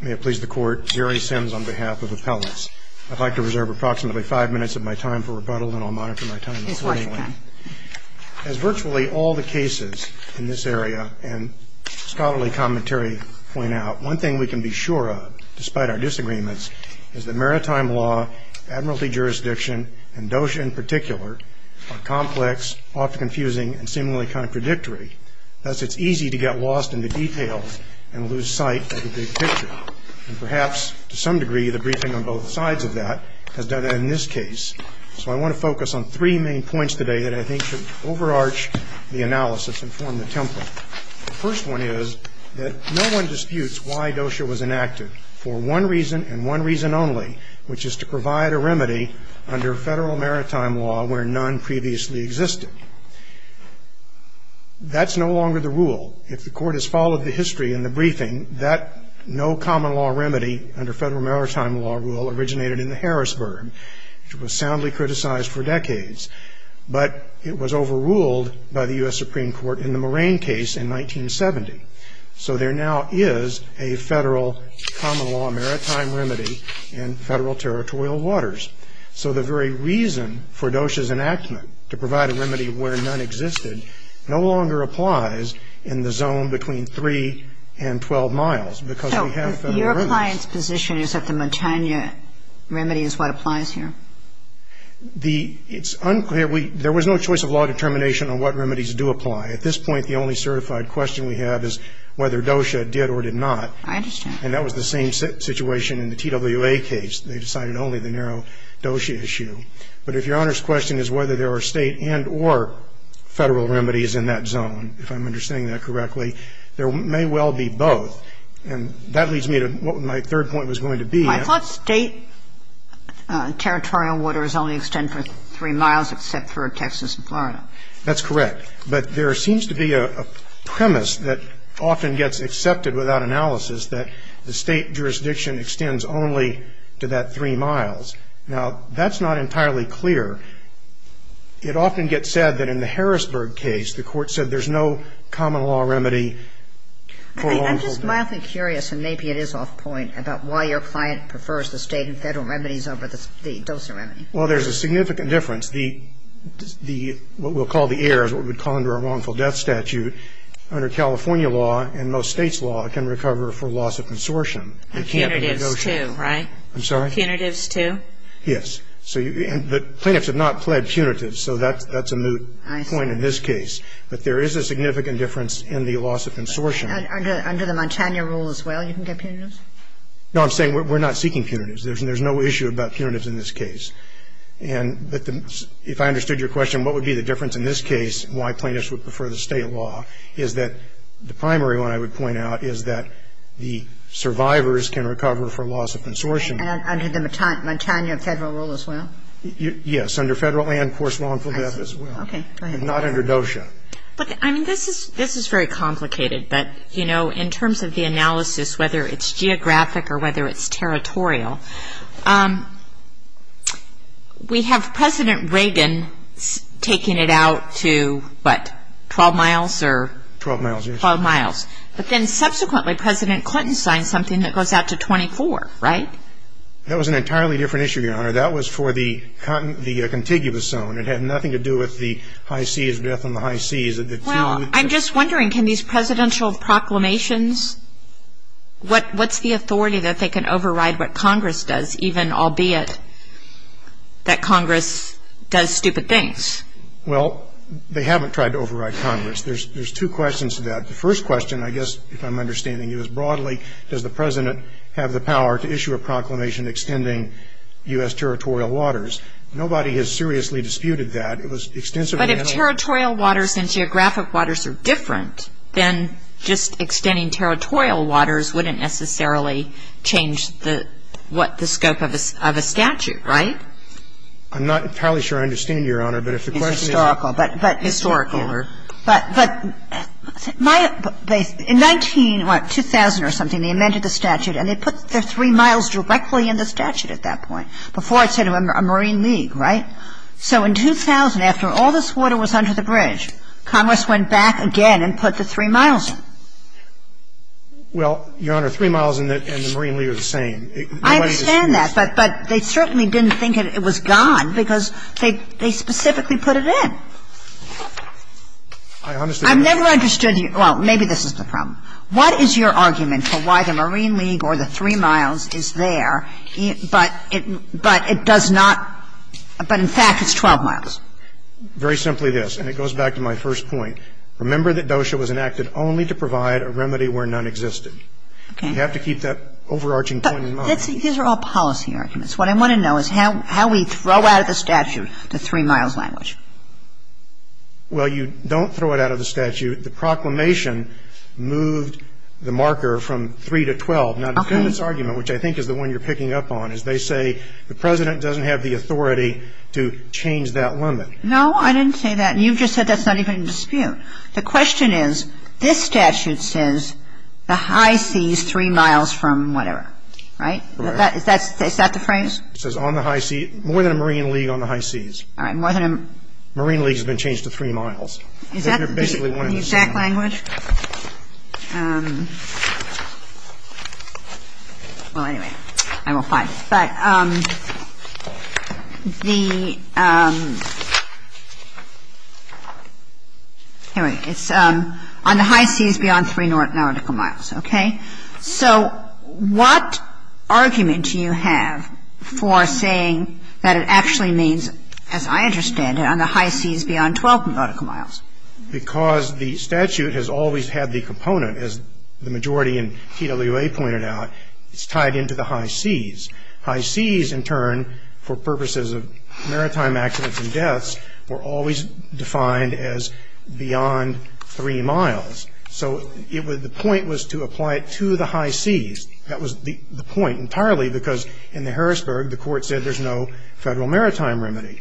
May it please the Court, Jerry Sims on behalf of Appellants. I'd like to reserve approximately five minutes of my time for rebuttal, and I'll monitor my time accordingly. As virtually all the cases in this area and scholarly commentary point out, one thing we can be sure of, despite our disagreements, is that maritime law, admiralty jurisdiction, and DOJ in particular, are complex, often confusing, and seemingly contradictory. Thus, it's easy to get lost in the details and lose sight of the big picture. And perhaps, to some degree, the briefing on both sides of that has done that in this case. So I want to focus on three main points today that I think should overarch the analysis and form the template. The first one is that no one disputes why DOJ was enacted for one reason and one reason only, which is to provide a remedy under federal maritime law where none previously existed. That's no longer the rule. If the Court has followed the history in the briefing, that no common law remedy under federal maritime law rule originated in the Harrisburg, which was soundly criticized for decades. But it was overruled by the U.S. Supreme Court in the Moraine case in 1970. So there now is a federal common law maritime remedy in federal territorial waters. So the very reason for DOJ's enactment, to provide a remedy where none existed, no longer applies in the zone between 3 and 12 miles, because we have federal rules. So if your client's position is that the Montana remedy is what applies here? It's unclear. There was no choice of law determination on what remedies do apply. At this point, the only certified question we have is whether DOJ did or did not. I understand. And that was the same situation in the TWA case. They decided only the narrow DOJ issue. But if Your Honor's question is whether there are State and or Federal remedies in that zone, if I'm understanding that correctly, there may well be both. And that leads me to what my third point was going to be. I thought State territorial waters only extend for 3 miles except for Texas and Florida. That's correct. But there seems to be a premise that often gets accepted without analysis, that the State jurisdiction extends only to that 3 miles. Now, that's not entirely clear. It often gets said that in the Harrisburg case, the Court said there's no common law remedy for a wrongful death. I'm just mildly curious, and maybe it is off point, about why your client prefers the State and Federal remedies over the dosing remedy. Well, there's a significant difference. What we'll call the error is what we'd call under a wrongful death statute. Under California law and most States' law, it can recover for loss of consortium. Punitives, too, right? I'm sorry? Punitives, too? Yes. But plaintiffs have not pled punitives, so that's a moot point in this case. But there is a significant difference in the loss of consortium. Under the Montana rule as well, you can get punitives? No, I'm saying we're not seeking punitives. There's no issue about punitives in this case. But if I understood your question, what would be the difference in this case and why plaintiffs would prefer the State law is that the primary one I would point out is that the survivors can recover for loss of consortium. And under the Montana Federal rule as well? Yes, under Federal and, of course, wrongful death as well. Okay. But not under DOSHA. But, I mean, this is very complicated. But, you know, in terms of the analysis, whether it's geographic or whether it's 12 miles or 12 miles. But then, subsequently, President Clinton signed something that goes out to 24, right? That was an entirely different issue, Your Honor. That was for the contiguous zone. It had nothing to do with the high seas, death on the high seas. Well, I'm just wondering, can these presidential proclamations, what's the authority that they can override what Congress does, even albeit that Congress does stupid things? Well, they haven't tried to override Congress. There's two questions to that. The first question, I guess, if I'm understanding you as broadly, does the President have the power to issue a proclamation extending U.S. territorial waters? Nobody has seriously disputed that. It was extensively analyzed. But if territorial waters and geographic waters are different, then just extending territorial waters wouldn't necessarily change the scope of a statute, right? I'm not entirely sure I understand you, Your Honor. But if the question is historical. It's historical. But in 19 or 2000 or something, they amended the statute and they put the three miles directly in the statute at that point. Before, it said a marine league, right? So in 2000, after all this water was under the bridge, Congress went back again and put the three miles in. Well, Your Honor, three miles and the marine league are the same. I understand that, but they certainly didn't think it was gone because they specifically put it in. I've never understood you. Well, maybe this is the problem. What is your argument for why the marine league or the three miles is there, but it does not, but in fact, it's 12 miles? Very simply this, and it goes back to my first point. Remember that DOSHA was enacted only to provide a remedy where none existed. Okay. You have to keep that overarching point in mind. But these are all policy arguments. What I want to know is how we throw out of the statute the three miles language. Well, you don't throw it out of the statute. The proclamation moved the marker from 3 to 12. Now, the defendant's argument, which I think is the one you're picking up on, is they say the President doesn't have the authority to change that limit. No, I didn't say that. You just said that's not even in dispute. The question is, this statute says the high seas three miles from whatever, right? Right. Is that the phrase? It says on the high seas, more than a marine league on the high seas. All right. More than a marine league has been changed to three miles. Is that the exact language? Well, anyway, I will find it. But the, anyway, it's on the high seas beyond three nautical miles. Okay. So what argument do you have for saying that it actually means, as I understand it, on the high seas beyond 12 nautical miles? Because the statute has always had the component, as the majority in TWA pointed out, it's tied into the high seas. High seas, in turn, for purposes of maritime accidents and deaths, were always defined as beyond three miles. So the point was to apply it to the high seas. That was the point entirely, because in the Harrisburg, the Court said there's no Federal maritime remedy.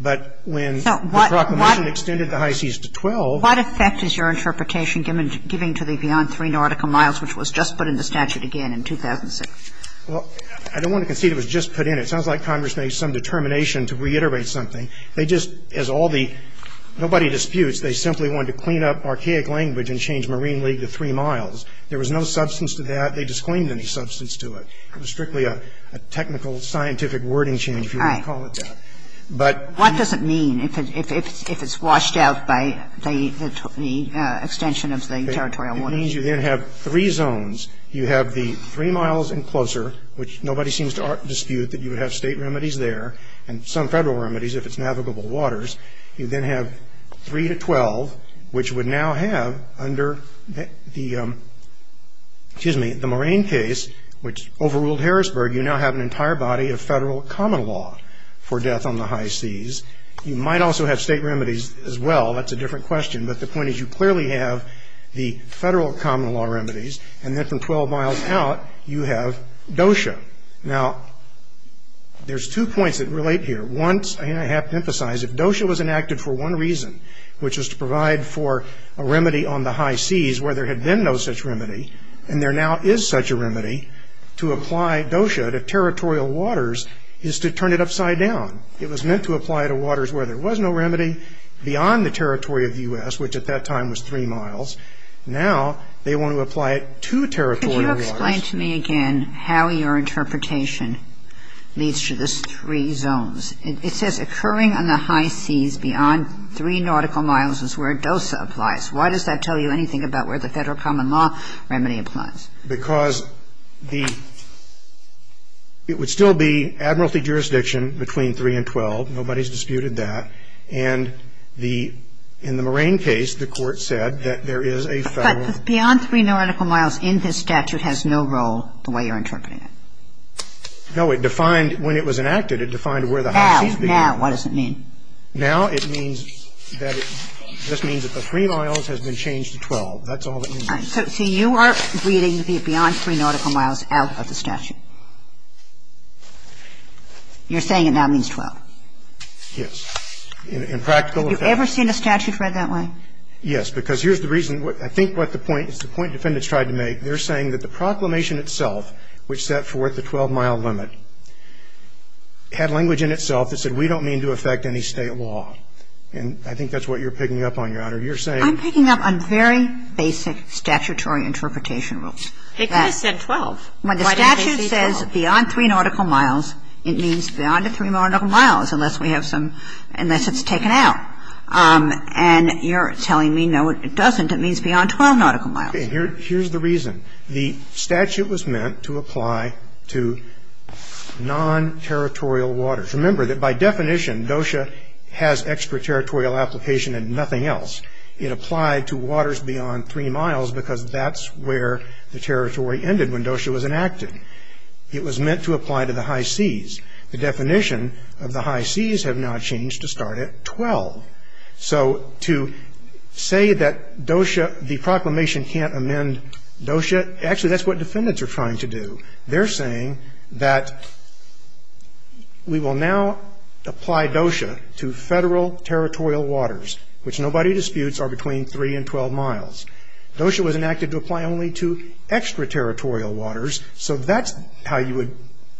But when the Proclamation extended the high seas to 12. What effect is your interpretation giving to the beyond three nautical miles, which was just put in the statute again in 2006? Well, I don't want to concede it was just put in. It sounds like Congress made some determination to reiterate something. They just, as all the, nobody disputes, they simply wanted to clean up archaic language and change Marine League to three miles. There was no substance to that. They disclaimed any substance to it. It was strictly a technical, scientific wording change, if you want to call it that. But. What does it mean if it's washed out by the extension of the territorial waters? It means you then have three zones. You have the three miles and closer, which nobody seems to dispute, that you would have State remedies there, and some Federal remedies if it's navigable waters. You then have three to 12, which would now have under the, excuse me, the Moraine case, which overruled Harrisburg, you now have an entire body of Federal common law for death on the high seas. You might also have State remedies as well. That's a different question. But the point is you clearly have the Federal common law remedies. And then from 12 miles out, you have DOSHA. Now, there's two points that relate here. Once, and I have to emphasize, if DOSHA was enacted for one reason, which was to provide for a remedy on the high seas where there had been no such remedy, and there now is such a remedy, to apply DOSHA to territorial waters is to turn it upside down. It was meant to apply to waters where there was no remedy beyond the territory of the U.S., which at that time was three miles. Now, they want to apply it to territorial waters. So, Mr. Gershwin, can you explain to me again how your interpretation leads to this three zones? It says occurring on the high seas beyond three nautical miles is where DOSHA applies. Why does that tell you anything about where the Federal common law remedy applies? Because the – it would still be admiralty jurisdiction between 3 and 12. Nobody has disputed that. And the – in the Moraine case, the Court said that there is a Federal – But the beyond three nautical miles in this statute has no role the way you're interpreting it. No. It defined – when it was enacted, it defined where the high seas began. Now. Now. What does it mean? Now, it means that it – this means that the three miles has been changed to 12. That's all that means. So you are reading the beyond three nautical miles out of the statute. You're saying it now means 12. Yes. In practical effect. Have you ever seen a statute read that way? Yes. Because here's the reason. I think what the point – it's the point defendants tried to make. They're saying that the proclamation itself, which set forth the 12-mile limit, had language in itself that said we don't mean to affect any State law. And I think that's what you're picking up on, Your Honor. You're saying – I'm picking up on very basic statutory interpretation rules. It kind of said 12. When the statute says beyond three nautical miles, it means beyond the three nautical miles, unless we have some – unless it's taken out. And you're telling me, no, it doesn't. It means beyond 12 nautical miles. Okay. Here's the reason. The statute was meant to apply to non-territorial waters. Remember that by definition, DOSHA has extraterritorial application and nothing else. It applied to waters beyond three miles because that's where the territory ended when DOSHA was enacted. It was meant to apply to the high seas. The definition of the high seas have now changed to start at 12. So to say that DOSHA – the proclamation can't amend DOSHA, actually that's what defendants are trying to do. They're saying that we will now apply DOSHA to federal territorial waters, which nobody disputes are between three and 12 miles. DOSHA was enacted to apply only to extraterritorial waters, so that's how you would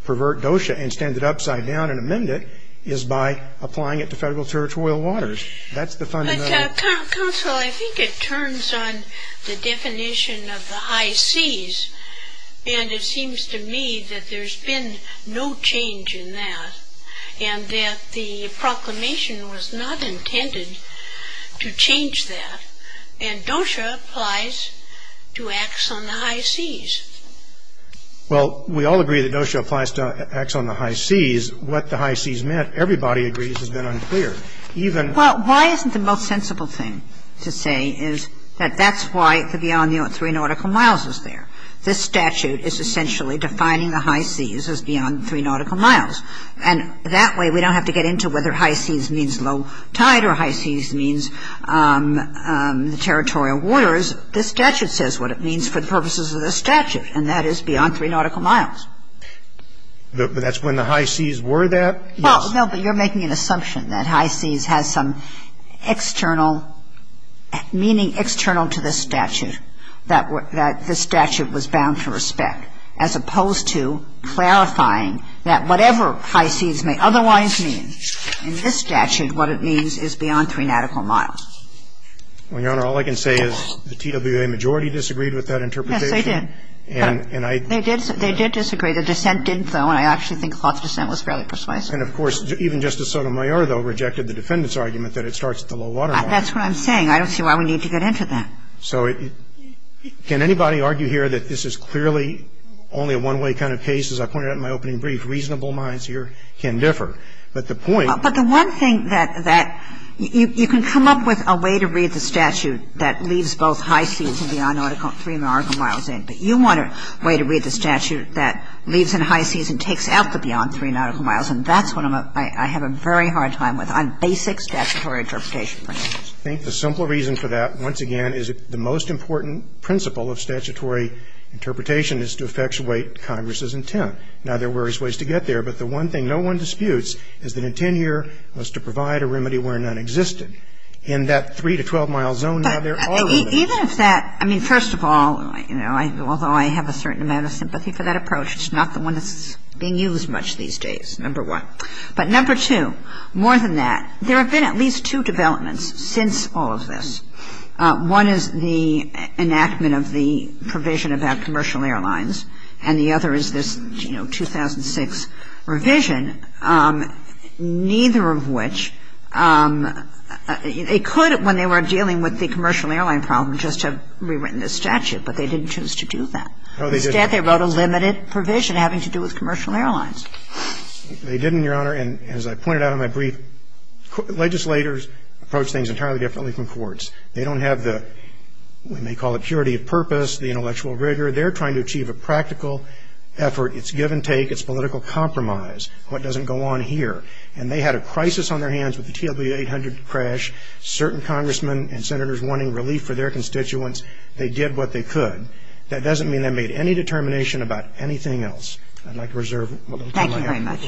pervert DOSHA and stand it upside down and amend it, is by applying it to federal territorial waters. That's the fundamental – But counsel, I think it turns on the definition of the high seas, and it seems to me that there's been no change in that and that the proclamation was not intended to change that, And DOSHA applies to acts on the high seas. Well, we all agree that DOSHA applies to acts on the high seas. What the high seas meant, everybody agrees, has been unclear. Even – Well, why isn't the most sensible thing to say is that that's why the beyond three nautical miles is there. This statute is essentially defining the high seas as beyond three nautical miles. And that way we don't have to get into whether high seas means low tide or high seas means the territorial waters. This statute says what it means for the purposes of this statute, and that is beyond three nautical miles. But that's when the high seas were that? Well, no, but you're making an assumption that high seas has some external – meaning external to this statute that this statute was bound to respect, as opposed to clarifying that whatever high seas may otherwise mean. In this statute, what it means is beyond three nautical miles. Well, Your Honor, all I can say is the TWA majority disagreed with that interpretation. Yes, they did. And I – They did disagree. The dissent didn't, though, and I actually think the dissent was fairly precise. And, of course, even Justice Sotomayor, though, rejected the defendant's argument that it starts at the low water mark. That's what I'm saying. I don't see why we need to get into that. So can anybody argue here that this is clearly only a one-way kind of case? As I pointed out in my opening brief, reasonable minds here can differ. But the point – But the one thing that you can come up with a way to read the statute that leaves both high seas and beyond three nautical miles in, but you want a way to read the statute that leaves in high seas and takes out the beyond three nautical miles. And that's what I'm – I have a very hard time with on basic statutory interpretation principles. I think the simple reason for that, once again, is the most important principle of statutory interpretation is to effectuate Congress's intent. Now, there are various ways to get there, but the one thing no one disputes is that intent here was to provide a remedy where none existed. In that three to 12-mile zone, now, there are limits. Even if that – I mean, first of all, you know, although I have a certain amount of sympathy for that approach, it's not the one that's being used much these days, number one. But number two, more than that, there have been at least two developments since all of this. One is the enactment of the provision about commercial airlines, and the other is this, you know, 2006 revision, neither of which – they could, when they were dealing with the commercial airline problem, just have rewritten the statute, but they didn't choose to do that. Instead, they wrote a limited provision having to do with commercial airlines. They didn't, Your Honor, and as I pointed out in my brief, legislators approach things entirely differently from courts. They don't have the – we may call it purity of purpose, the intellectual rigor. They're trying to achieve a practical effort. It's give and take. It's political compromise. What doesn't go on here? And they had a crisis on their hands with the TLB 800 crash, certain congressmen and senators wanting relief for their constituents. They did what they could. That doesn't mean they made any determination about anything else. I'd like to reserve a little time. Thank you very much.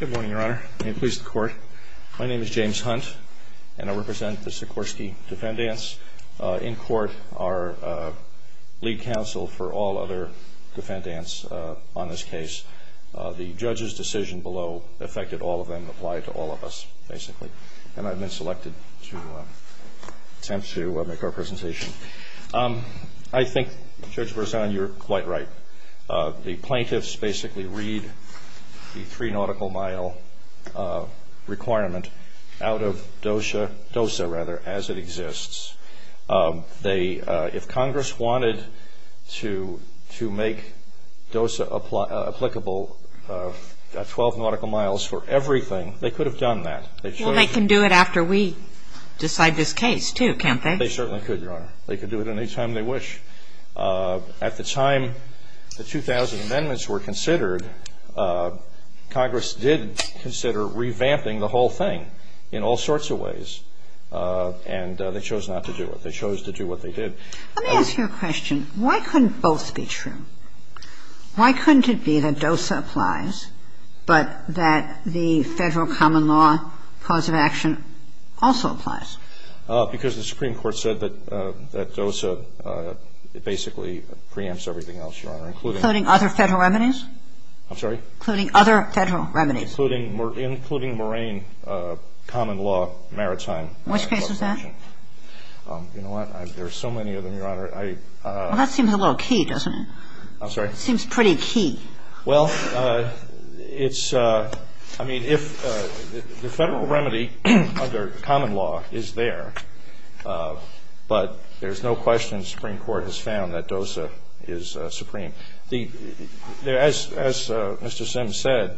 Good morning, Your Honor. May it please the Court. My name is James Hunt, and I represent the Sikorsky Defendants. In court, our lead counsel for all other defendants on this case, the judge's decision below affected all of them, applied to all of us, basically. And I've been selected to attempt to make our presentation. I think, Judge Berzon, you're quite right. The plaintiffs basically read the three-nautical-mile requirement out of DOSA, rather, as it exists. If Congress wanted to make DOSA applicable, 12-nautical-miles for everything, they could have done that. Well, they can do it after we decide this case, too, can't they? They certainly could, Your Honor. They could do it any time they wish. At the time the 2000 amendments were considered, Congress did consider revamping the whole thing in all sorts of ways, and they chose not to do it. They chose to do what they did. Let me ask you a question. Why couldn't both be true? Why couldn't it be that DOSA applies but that the federal common law cause of action also applies? Because the Supreme Court said that DOSA basically preempts everything else, Your Honor, including other federal remedies. I'm sorry? Including other federal remedies. Including moraine common law maritime. Which case is that? You know what? There are so many of them, Your Honor. Well, that seems a little key, doesn't it? I'm sorry? It seems pretty key. Well, it's, I mean, if the federal remedy under common law is there, but there's no question the Supreme Court has found that DOSA is supreme. As Mr. Sims said,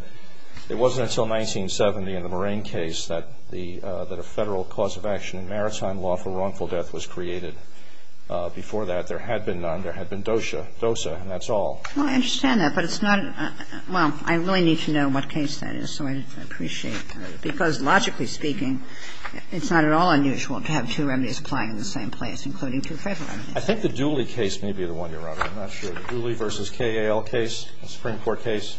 it wasn't until 1970 in the moraine case that a federal cause of action in maritime law for wrongful death was created. Before that, there had been none. There had been DOSA. And that's all. Well, I understand that. But it's not, well, I really need to know what case that is. So I'd appreciate, because logically speaking, it's not at all unusual to have two remedies applying in the same place, including two federal remedies. I think the Dooley case may be the one, Your Honor. I'm not sure. The Dooley v. K.A.L. case, the Supreme Court case.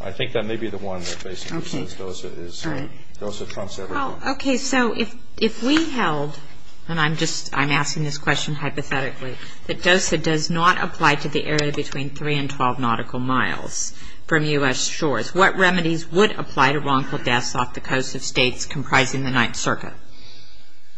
I think that may be the one that basically says DOSA trumps everything. Well, okay, so if we held, and I'm asking this question hypothetically, that DOSA does not apply to the area between 3 and 12 nautical miles from U.S. shores, what remedies would apply to wrongful deaths off the coast of states comprising the Ninth Circuit?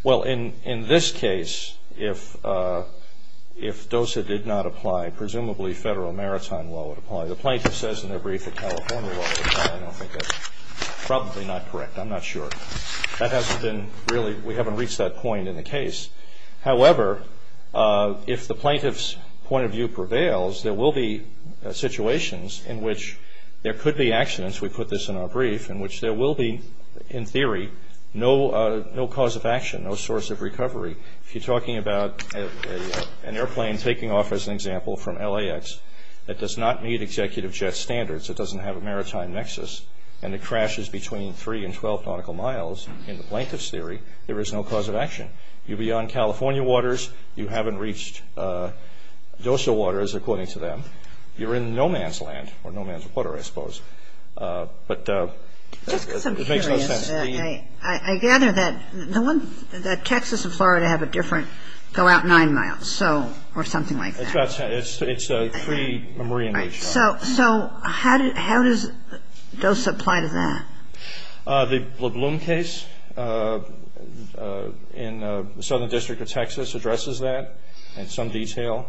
Well, in this case, if DOSA did not apply, presumably federal maritime law would apply. The plaintiff says in their brief that California law would apply. I don't think that's probably not correct. I'm not sure. That hasn't been really, we haven't reached that point in the case. However, if the plaintiff's point of view prevails, there will be situations in which there could be accidents, we put this in our brief, in which there will be, in theory, no cause of action, no source of recovery. If you're talking about an airplane taking off, as an example, from LAX, that does not meet executive jet standards, it doesn't have a maritime nexus, and it crashes between 3 and 12 nautical miles, in the plaintiff's theory, there is no cause of action. You're beyond California waters. You haven't reached DOSA waters, according to them. You're in no man's land, or no man's water, I suppose. But it makes no sense. Just because I'm curious, I gather that the Texas and Florida have a different go out 9 miles, or something like that. It's a free marine reach. So how does DOSA apply to that? The LeBloom case in the Southern District of Texas addresses that in some detail.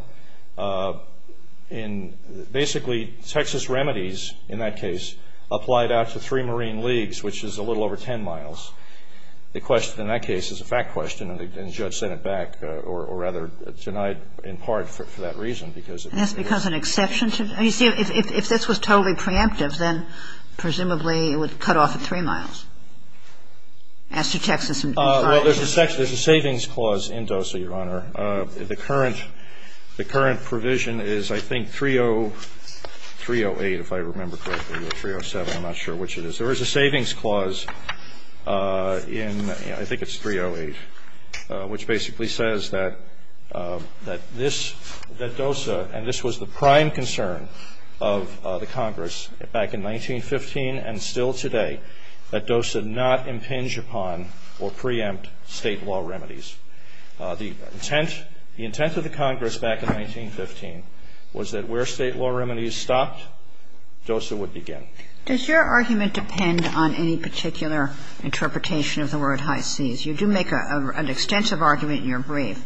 Basically, Texas remedies, in that case, applied out to three marine leagues, which is a little over 10 miles. The question in that case is a fact question, and the judge sent it back, or rather denied in part for that reason. And that's because an exception to it? You see, if this was totally preemptive, then presumably it would cut off at 3 miles. As to Texas and Florida. Well, there's a savings clause in DOSA, Your Honor. The current provision is, I think, 308, if I remember correctly, or 307, I'm not sure which it is. There is a savings clause in, I think it's 308, which basically says that DOSA, and this was the prime concern of the Congress back in 1915 and still today, that DOSA not impinge upon or preempt state law remedies. The intent of the Congress back in 1915 was that where state law remedies stopped, DOSA would begin. Does your argument depend on any particular interpretation of the word high seas? You do make an extensive argument in your brief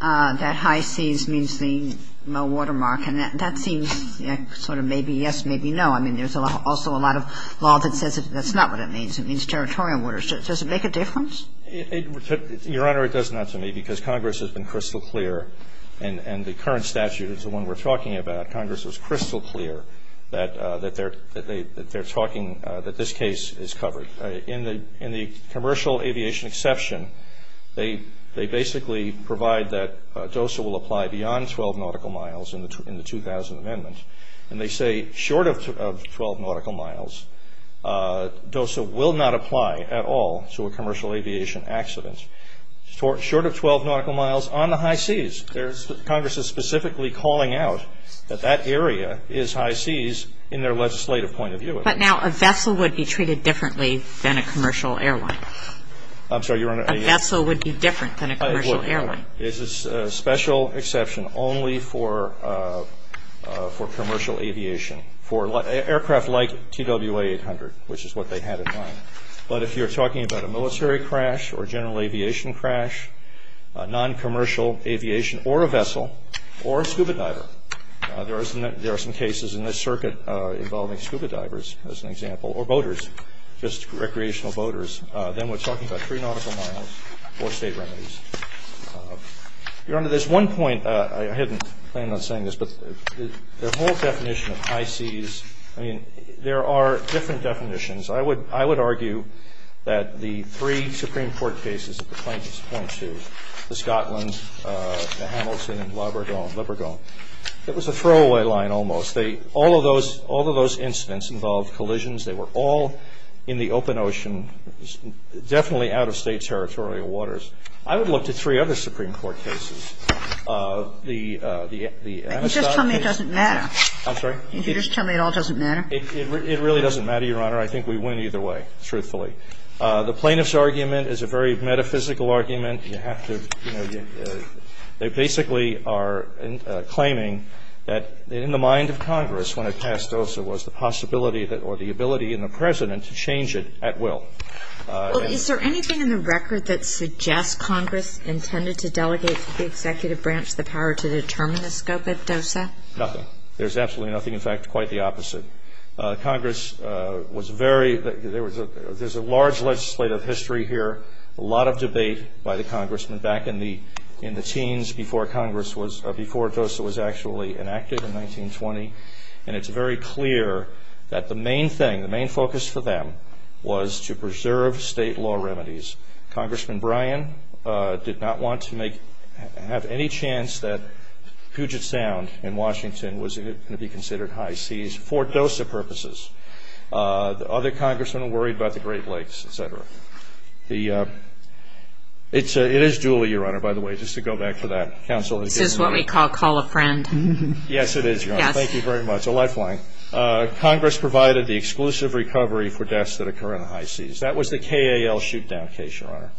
that high seas means the low water mark, and that seems sort of maybe yes, maybe no. I mean, there's also a lot of law that says that's not what it means. It means territorial waters. Does it make a difference? Your Honor, it does not to me because Congress has been crystal clear, and the current statute is the one we're talking about. Congress was crystal clear that they're talking, that this case is covered. In the commercial aviation exception, they basically provide that DOSA will apply beyond 12 nautical miles in the 2000 amendment, and they say short of 12 nautical miles, DOSA will not apply at all to a commercial aviation accident. Short of 12 nautical miles on the high seas, Congress is specifically calling out that that area is high seas in their legislative point of view. But now a vessel would be treated differently than a commercial airline. I'm sorry, Your Honor. A vessel would be different than a commercial airline. It's a special exception only for commercial aviation. For aircraft like TWA 800, which is what they had in mind. But if you're talking about a military crash or general aviation crash, noncommercial aviation or a vessel or a scuba diver, there are some cases in this circuit involving scuba divers, as an example, or boaters, just recreational boaters. Then we're talking about 3 nautical miles or state remedies. Your Honor, there's one point. I hadn't planned on saying this, but the whole definition of high seas, I mean, there are different definitions. I would argue that the three Supreme Court cases that the plaintiffs point to, the Scotland, the Hamilton, and Lebergone, it was a throwaway line almost. All of those incidents involved collisions. They were all in the open ocean, definitely out of state territorial waters. I would look to three other Supreme Court cases. The Amistad case. You just tell me it doesn't matter. I'm sorry? You just tell me it all doesn't matter. It really doesn't matter, Your Honor. I think we win either way, truthfully. The plaintiff's argument is a very metaphysical argument. You have to, you know, they basically are claiming that in the mind of Congress, when it passed DOSA, was the possibility or the ability in the President to change it at will. Well, is there anything in the record that suggests Congress intended to delegate to the executive branch the power to determine the scope of DOSA? There's absolutely nothing. In fact, quite the opposite. Congress was very, there's a large legislative history here, a lot of debate by the congressmen back in the teens before Congress was, before DOSA was actually enacted in 1920, and it's very clear that the main thing, the main focus for them was to preserve state law remedies. Congressman Bryan did not want to make, have any chance that Puget Sound in Washington was going to be considered high seas for DOSA purposes. The other congressmen were worried about the Great Lakes, et cetera. It is duly, Your Honor, by the way, just to go back to that. This is what we call call a friend. Yes, it is, Your Honor. Thank you very much. A lifeline. Congress provided the exclusive recovery for deaths that occur in the high seas. That was the KAL shoot-down case, Your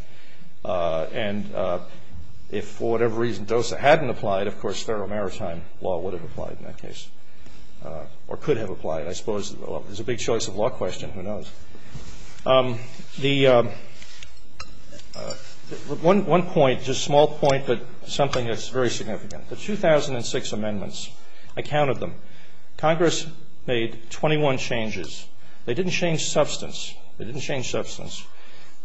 Honor. And if for whatever reason DOSA hadn't applied, of course, federal maritime law would have applied in that case, or could have applied, I suppose. It's a big choice of law question. Who knows? The one point, just a small point, but something that's very significant. The 2006 amendments, I counted them. Congress made 21 changes. They didn't change substance. They didn't change substance,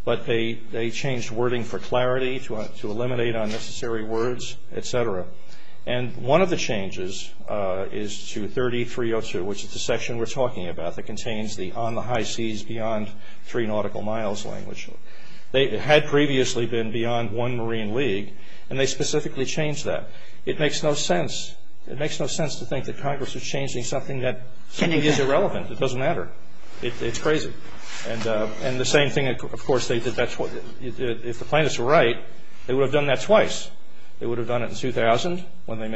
but they changed wording for clarity, to eliminate unnecessary words, et cetera. And one of the changes is to 3302, which is the section we're talking about that contains the on the high seas beyond three nautical miles language. They had previously been beyond one marine league, and they specifically changed that. It makes no sense. It makes no sense to think that Congress is changing something that is irrelevant. It doesn't matter. It's crazy. And the same thing, of course, if the plaintiffs were right, they would have done that twice. They would have done it in 2000, when they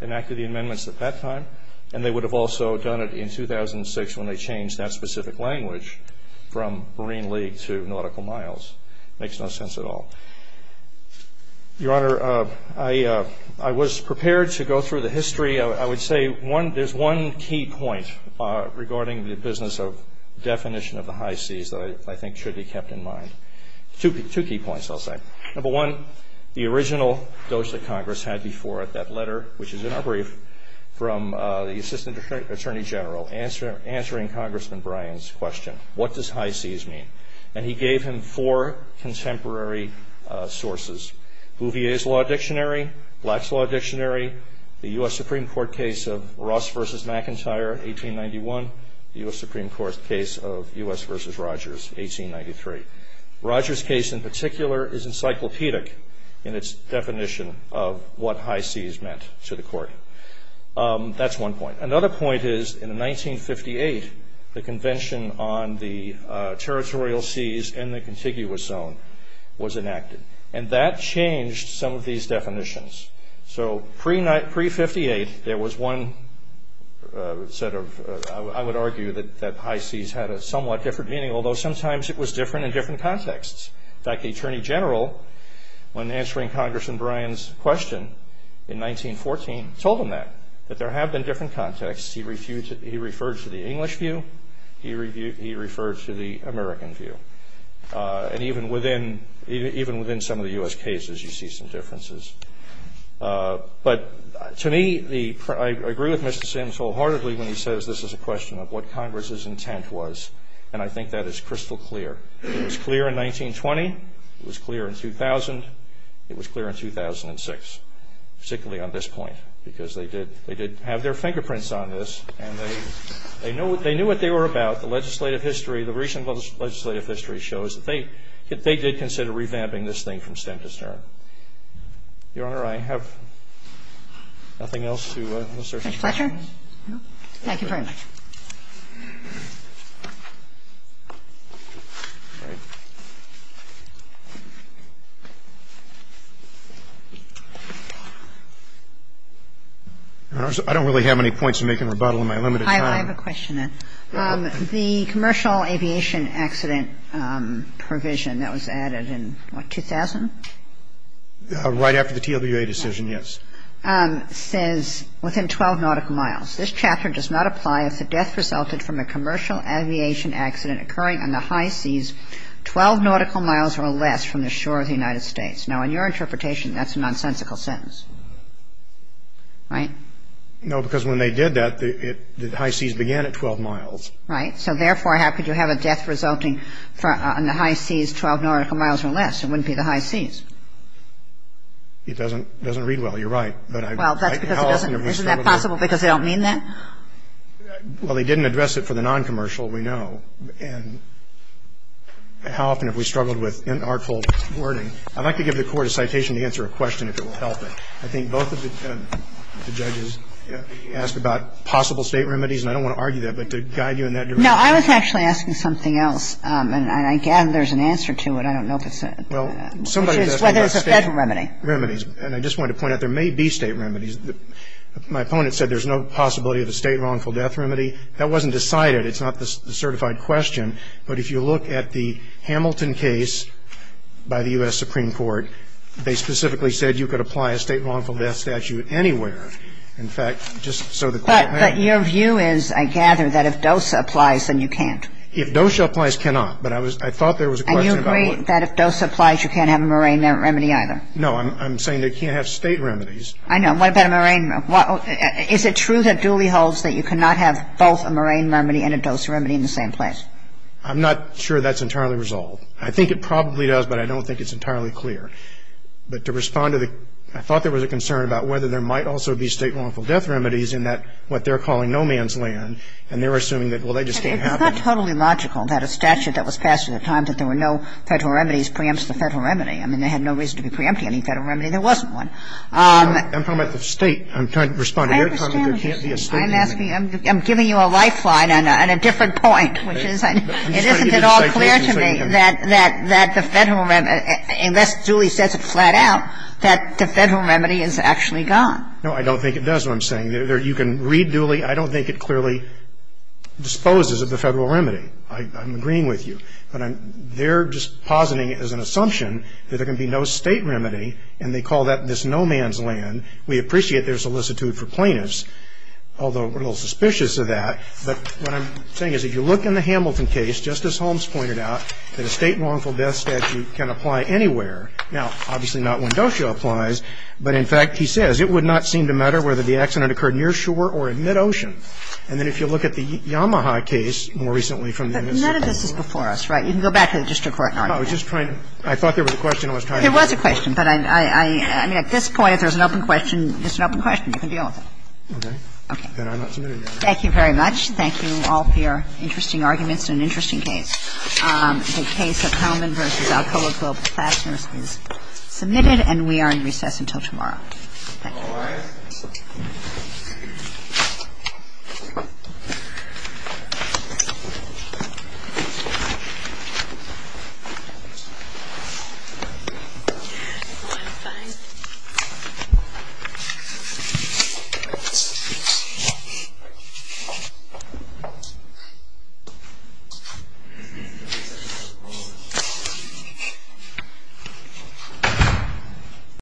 enacted the amendments at that time, and they would have also done it in 2006, when they changed that specific language from marine league to nautical miles. It makes no sense at all. Your Honor, I was prepared to go through the history. I would say there's one key point regarding the definition of the high seas that I think should be kept in mind. Two key points, I'll say. Number one, the original dose that Congress had before it, that letter, which is in our brief, from the Assistant Attorney General, answering Congressman Bryan's question, what does high seas mean? And he gave him four contemporary sources, Bouvier's Law Dictionary, Black's Law Dictionary, the U.S. Supreme Court case of Ross v. McIntyre, 1891, the U.S. Supreme Court case of U.S. v. Rogers, 1893. Rogers' case, in particular, is encyclopedic in its definition of what high seas meant to the court. That's one point. Another point is, in 1958, the Convention on the Territorial Seas and the Contiguous Zone was enacted. And that changed some of these definitions. So pre-'58, there was one set of, I would argue, that high seas had a somewhat different meaning, although sometimes it was different in different contexts. In fact, the Attorney General, when answering Congressman Bryan's question in 1914, told him that, that there have been different contexts. He referred to the English view. He referred to the American view. And even within some of the U.S. cases, you see some differences. But to me, I agree with Mr. Sims wholeheartedly when he says this is a question of what Congress's intent was, and I think that is crystal clear. It was clear in 1920. It was clear in 2000. It was clear in 2006, particularly on this point, because they did have their fingerprints on this, and they knew what they were about. The legislative history, the recent legislative history shows that they did consider revamping this thing from stem to stern. Your Honor, I have nothing else to assert. Judge Fletcher? No. Thank you very much. I don't really have any points to make in rebuttal in my limited time. I have a question. The commercial aviation accident provision that was added in, what, 2000? Right after the TWA decision, yes. It says, within 12 nautical miles, this chapter does not apply if the death resulted from a commercial aviation accident occurring on the high seas 12 nautical miles or less from the shore of the United States. Now, in your interpretation, that's a nonsensical sentence, right? No, because when they did that, the high seas began at 12 miles. Right. So, therefore, how could you have a death resulting on the high seas 12 nautical miles or less? It wouldn't be the high seas. It doesn't read well. You're right. Well, that's because it doesn't. Isn't that possible because they don't mean that? Well, they didn't address it for the noncommercial, we know. And how often have we struggled with inartful wording? I'd like to give the Court a citation to answer a question if it will help it. I think both of the judges asked about possible state remedies, and I don't want to argue that, but to guide you in that direction. No, I was actually asking something else, and I gather there's an answer to it. I don't know if it's a state remedy. And I just wanted to point out there may be state remedies. My opponent said there's no possibility of a state wrongful death remedy. That wasn't decided. It's not the certified question. But if you look at the Hamilton case by the U.S. Supreme Court, they specifically said you could apply a state wrongful death statute anywhere. In fact, just so the Court may understand. But your view is, I gather, that if DOSA applies, then you can't. If DOSA applies, cannot. But I thought there was a question about what. And you agree that if DOSA applies, you can't have a moraine remedy either? No, I'm saying they can't have state remedies. I know. What about a moraine? Is it true that Dooley holds that you cannot have both a moraine remedy and a DOSA remedy in the same place? I'm not sure that's entirely resolved. I think it probably does, but I don't think it's entirely clear. But to respond to the – I thought there was a concern about whether there might also be state wrongful death remedies in that what they're calling no man's land, and they're assuming that, well, they just can't have them. It's not totally logical that a statute that was passed at the time that there were no Federal remedies preempts the Federal remedy. I mean, they had no reason to be preempting any Federal remedy. There wasn't one. I'm talking about the State. I'm trying to respond to their comment that there can't be a State remedy. I'm giving you a lifeline on a different point, which is it isn't at all clear to me that that the Federal remedy, unless Dooley sets it flat out, that the Federal remedy is actually gone. No, I don't think it does what I'm saying. You can read Dooley. I don't think it clearly disposes of the Federal remedy. I'm agreeing with you. But they're just positing it as an assumption that there can be no State remedy, and they call that this no man's land. We appreciate their solicitude for plaintiffs, although we're a little suspicious of that. But what I'm saying is if you look in the Hamilton case, just as Holmes pointed out, that a State wrongful death statute can apply anywhere. Now, obviously not when Docio applies, but in fact, he says, it would not seem to matter whether the accident occurred near shore or in mid-ocean. And then if you look at the Yamaha case more recently from the MSC. But none of this is before us, right? You can go back to the district court argument. No, I was just trying to – I thought there was a question I was trying to answer. There was a question. But I mean, at this point, if there's an open question, it's an open question. You can deal with it. Okay. Okay. Then I'm not submitting it. Thank you very much. Thank you all for your interesting arguments in an interesting case. The case of Hellman v. Alcoa Globe Fasteners is submitted, and we are in recess until tomorrow. Thank you. All rise. Thank you.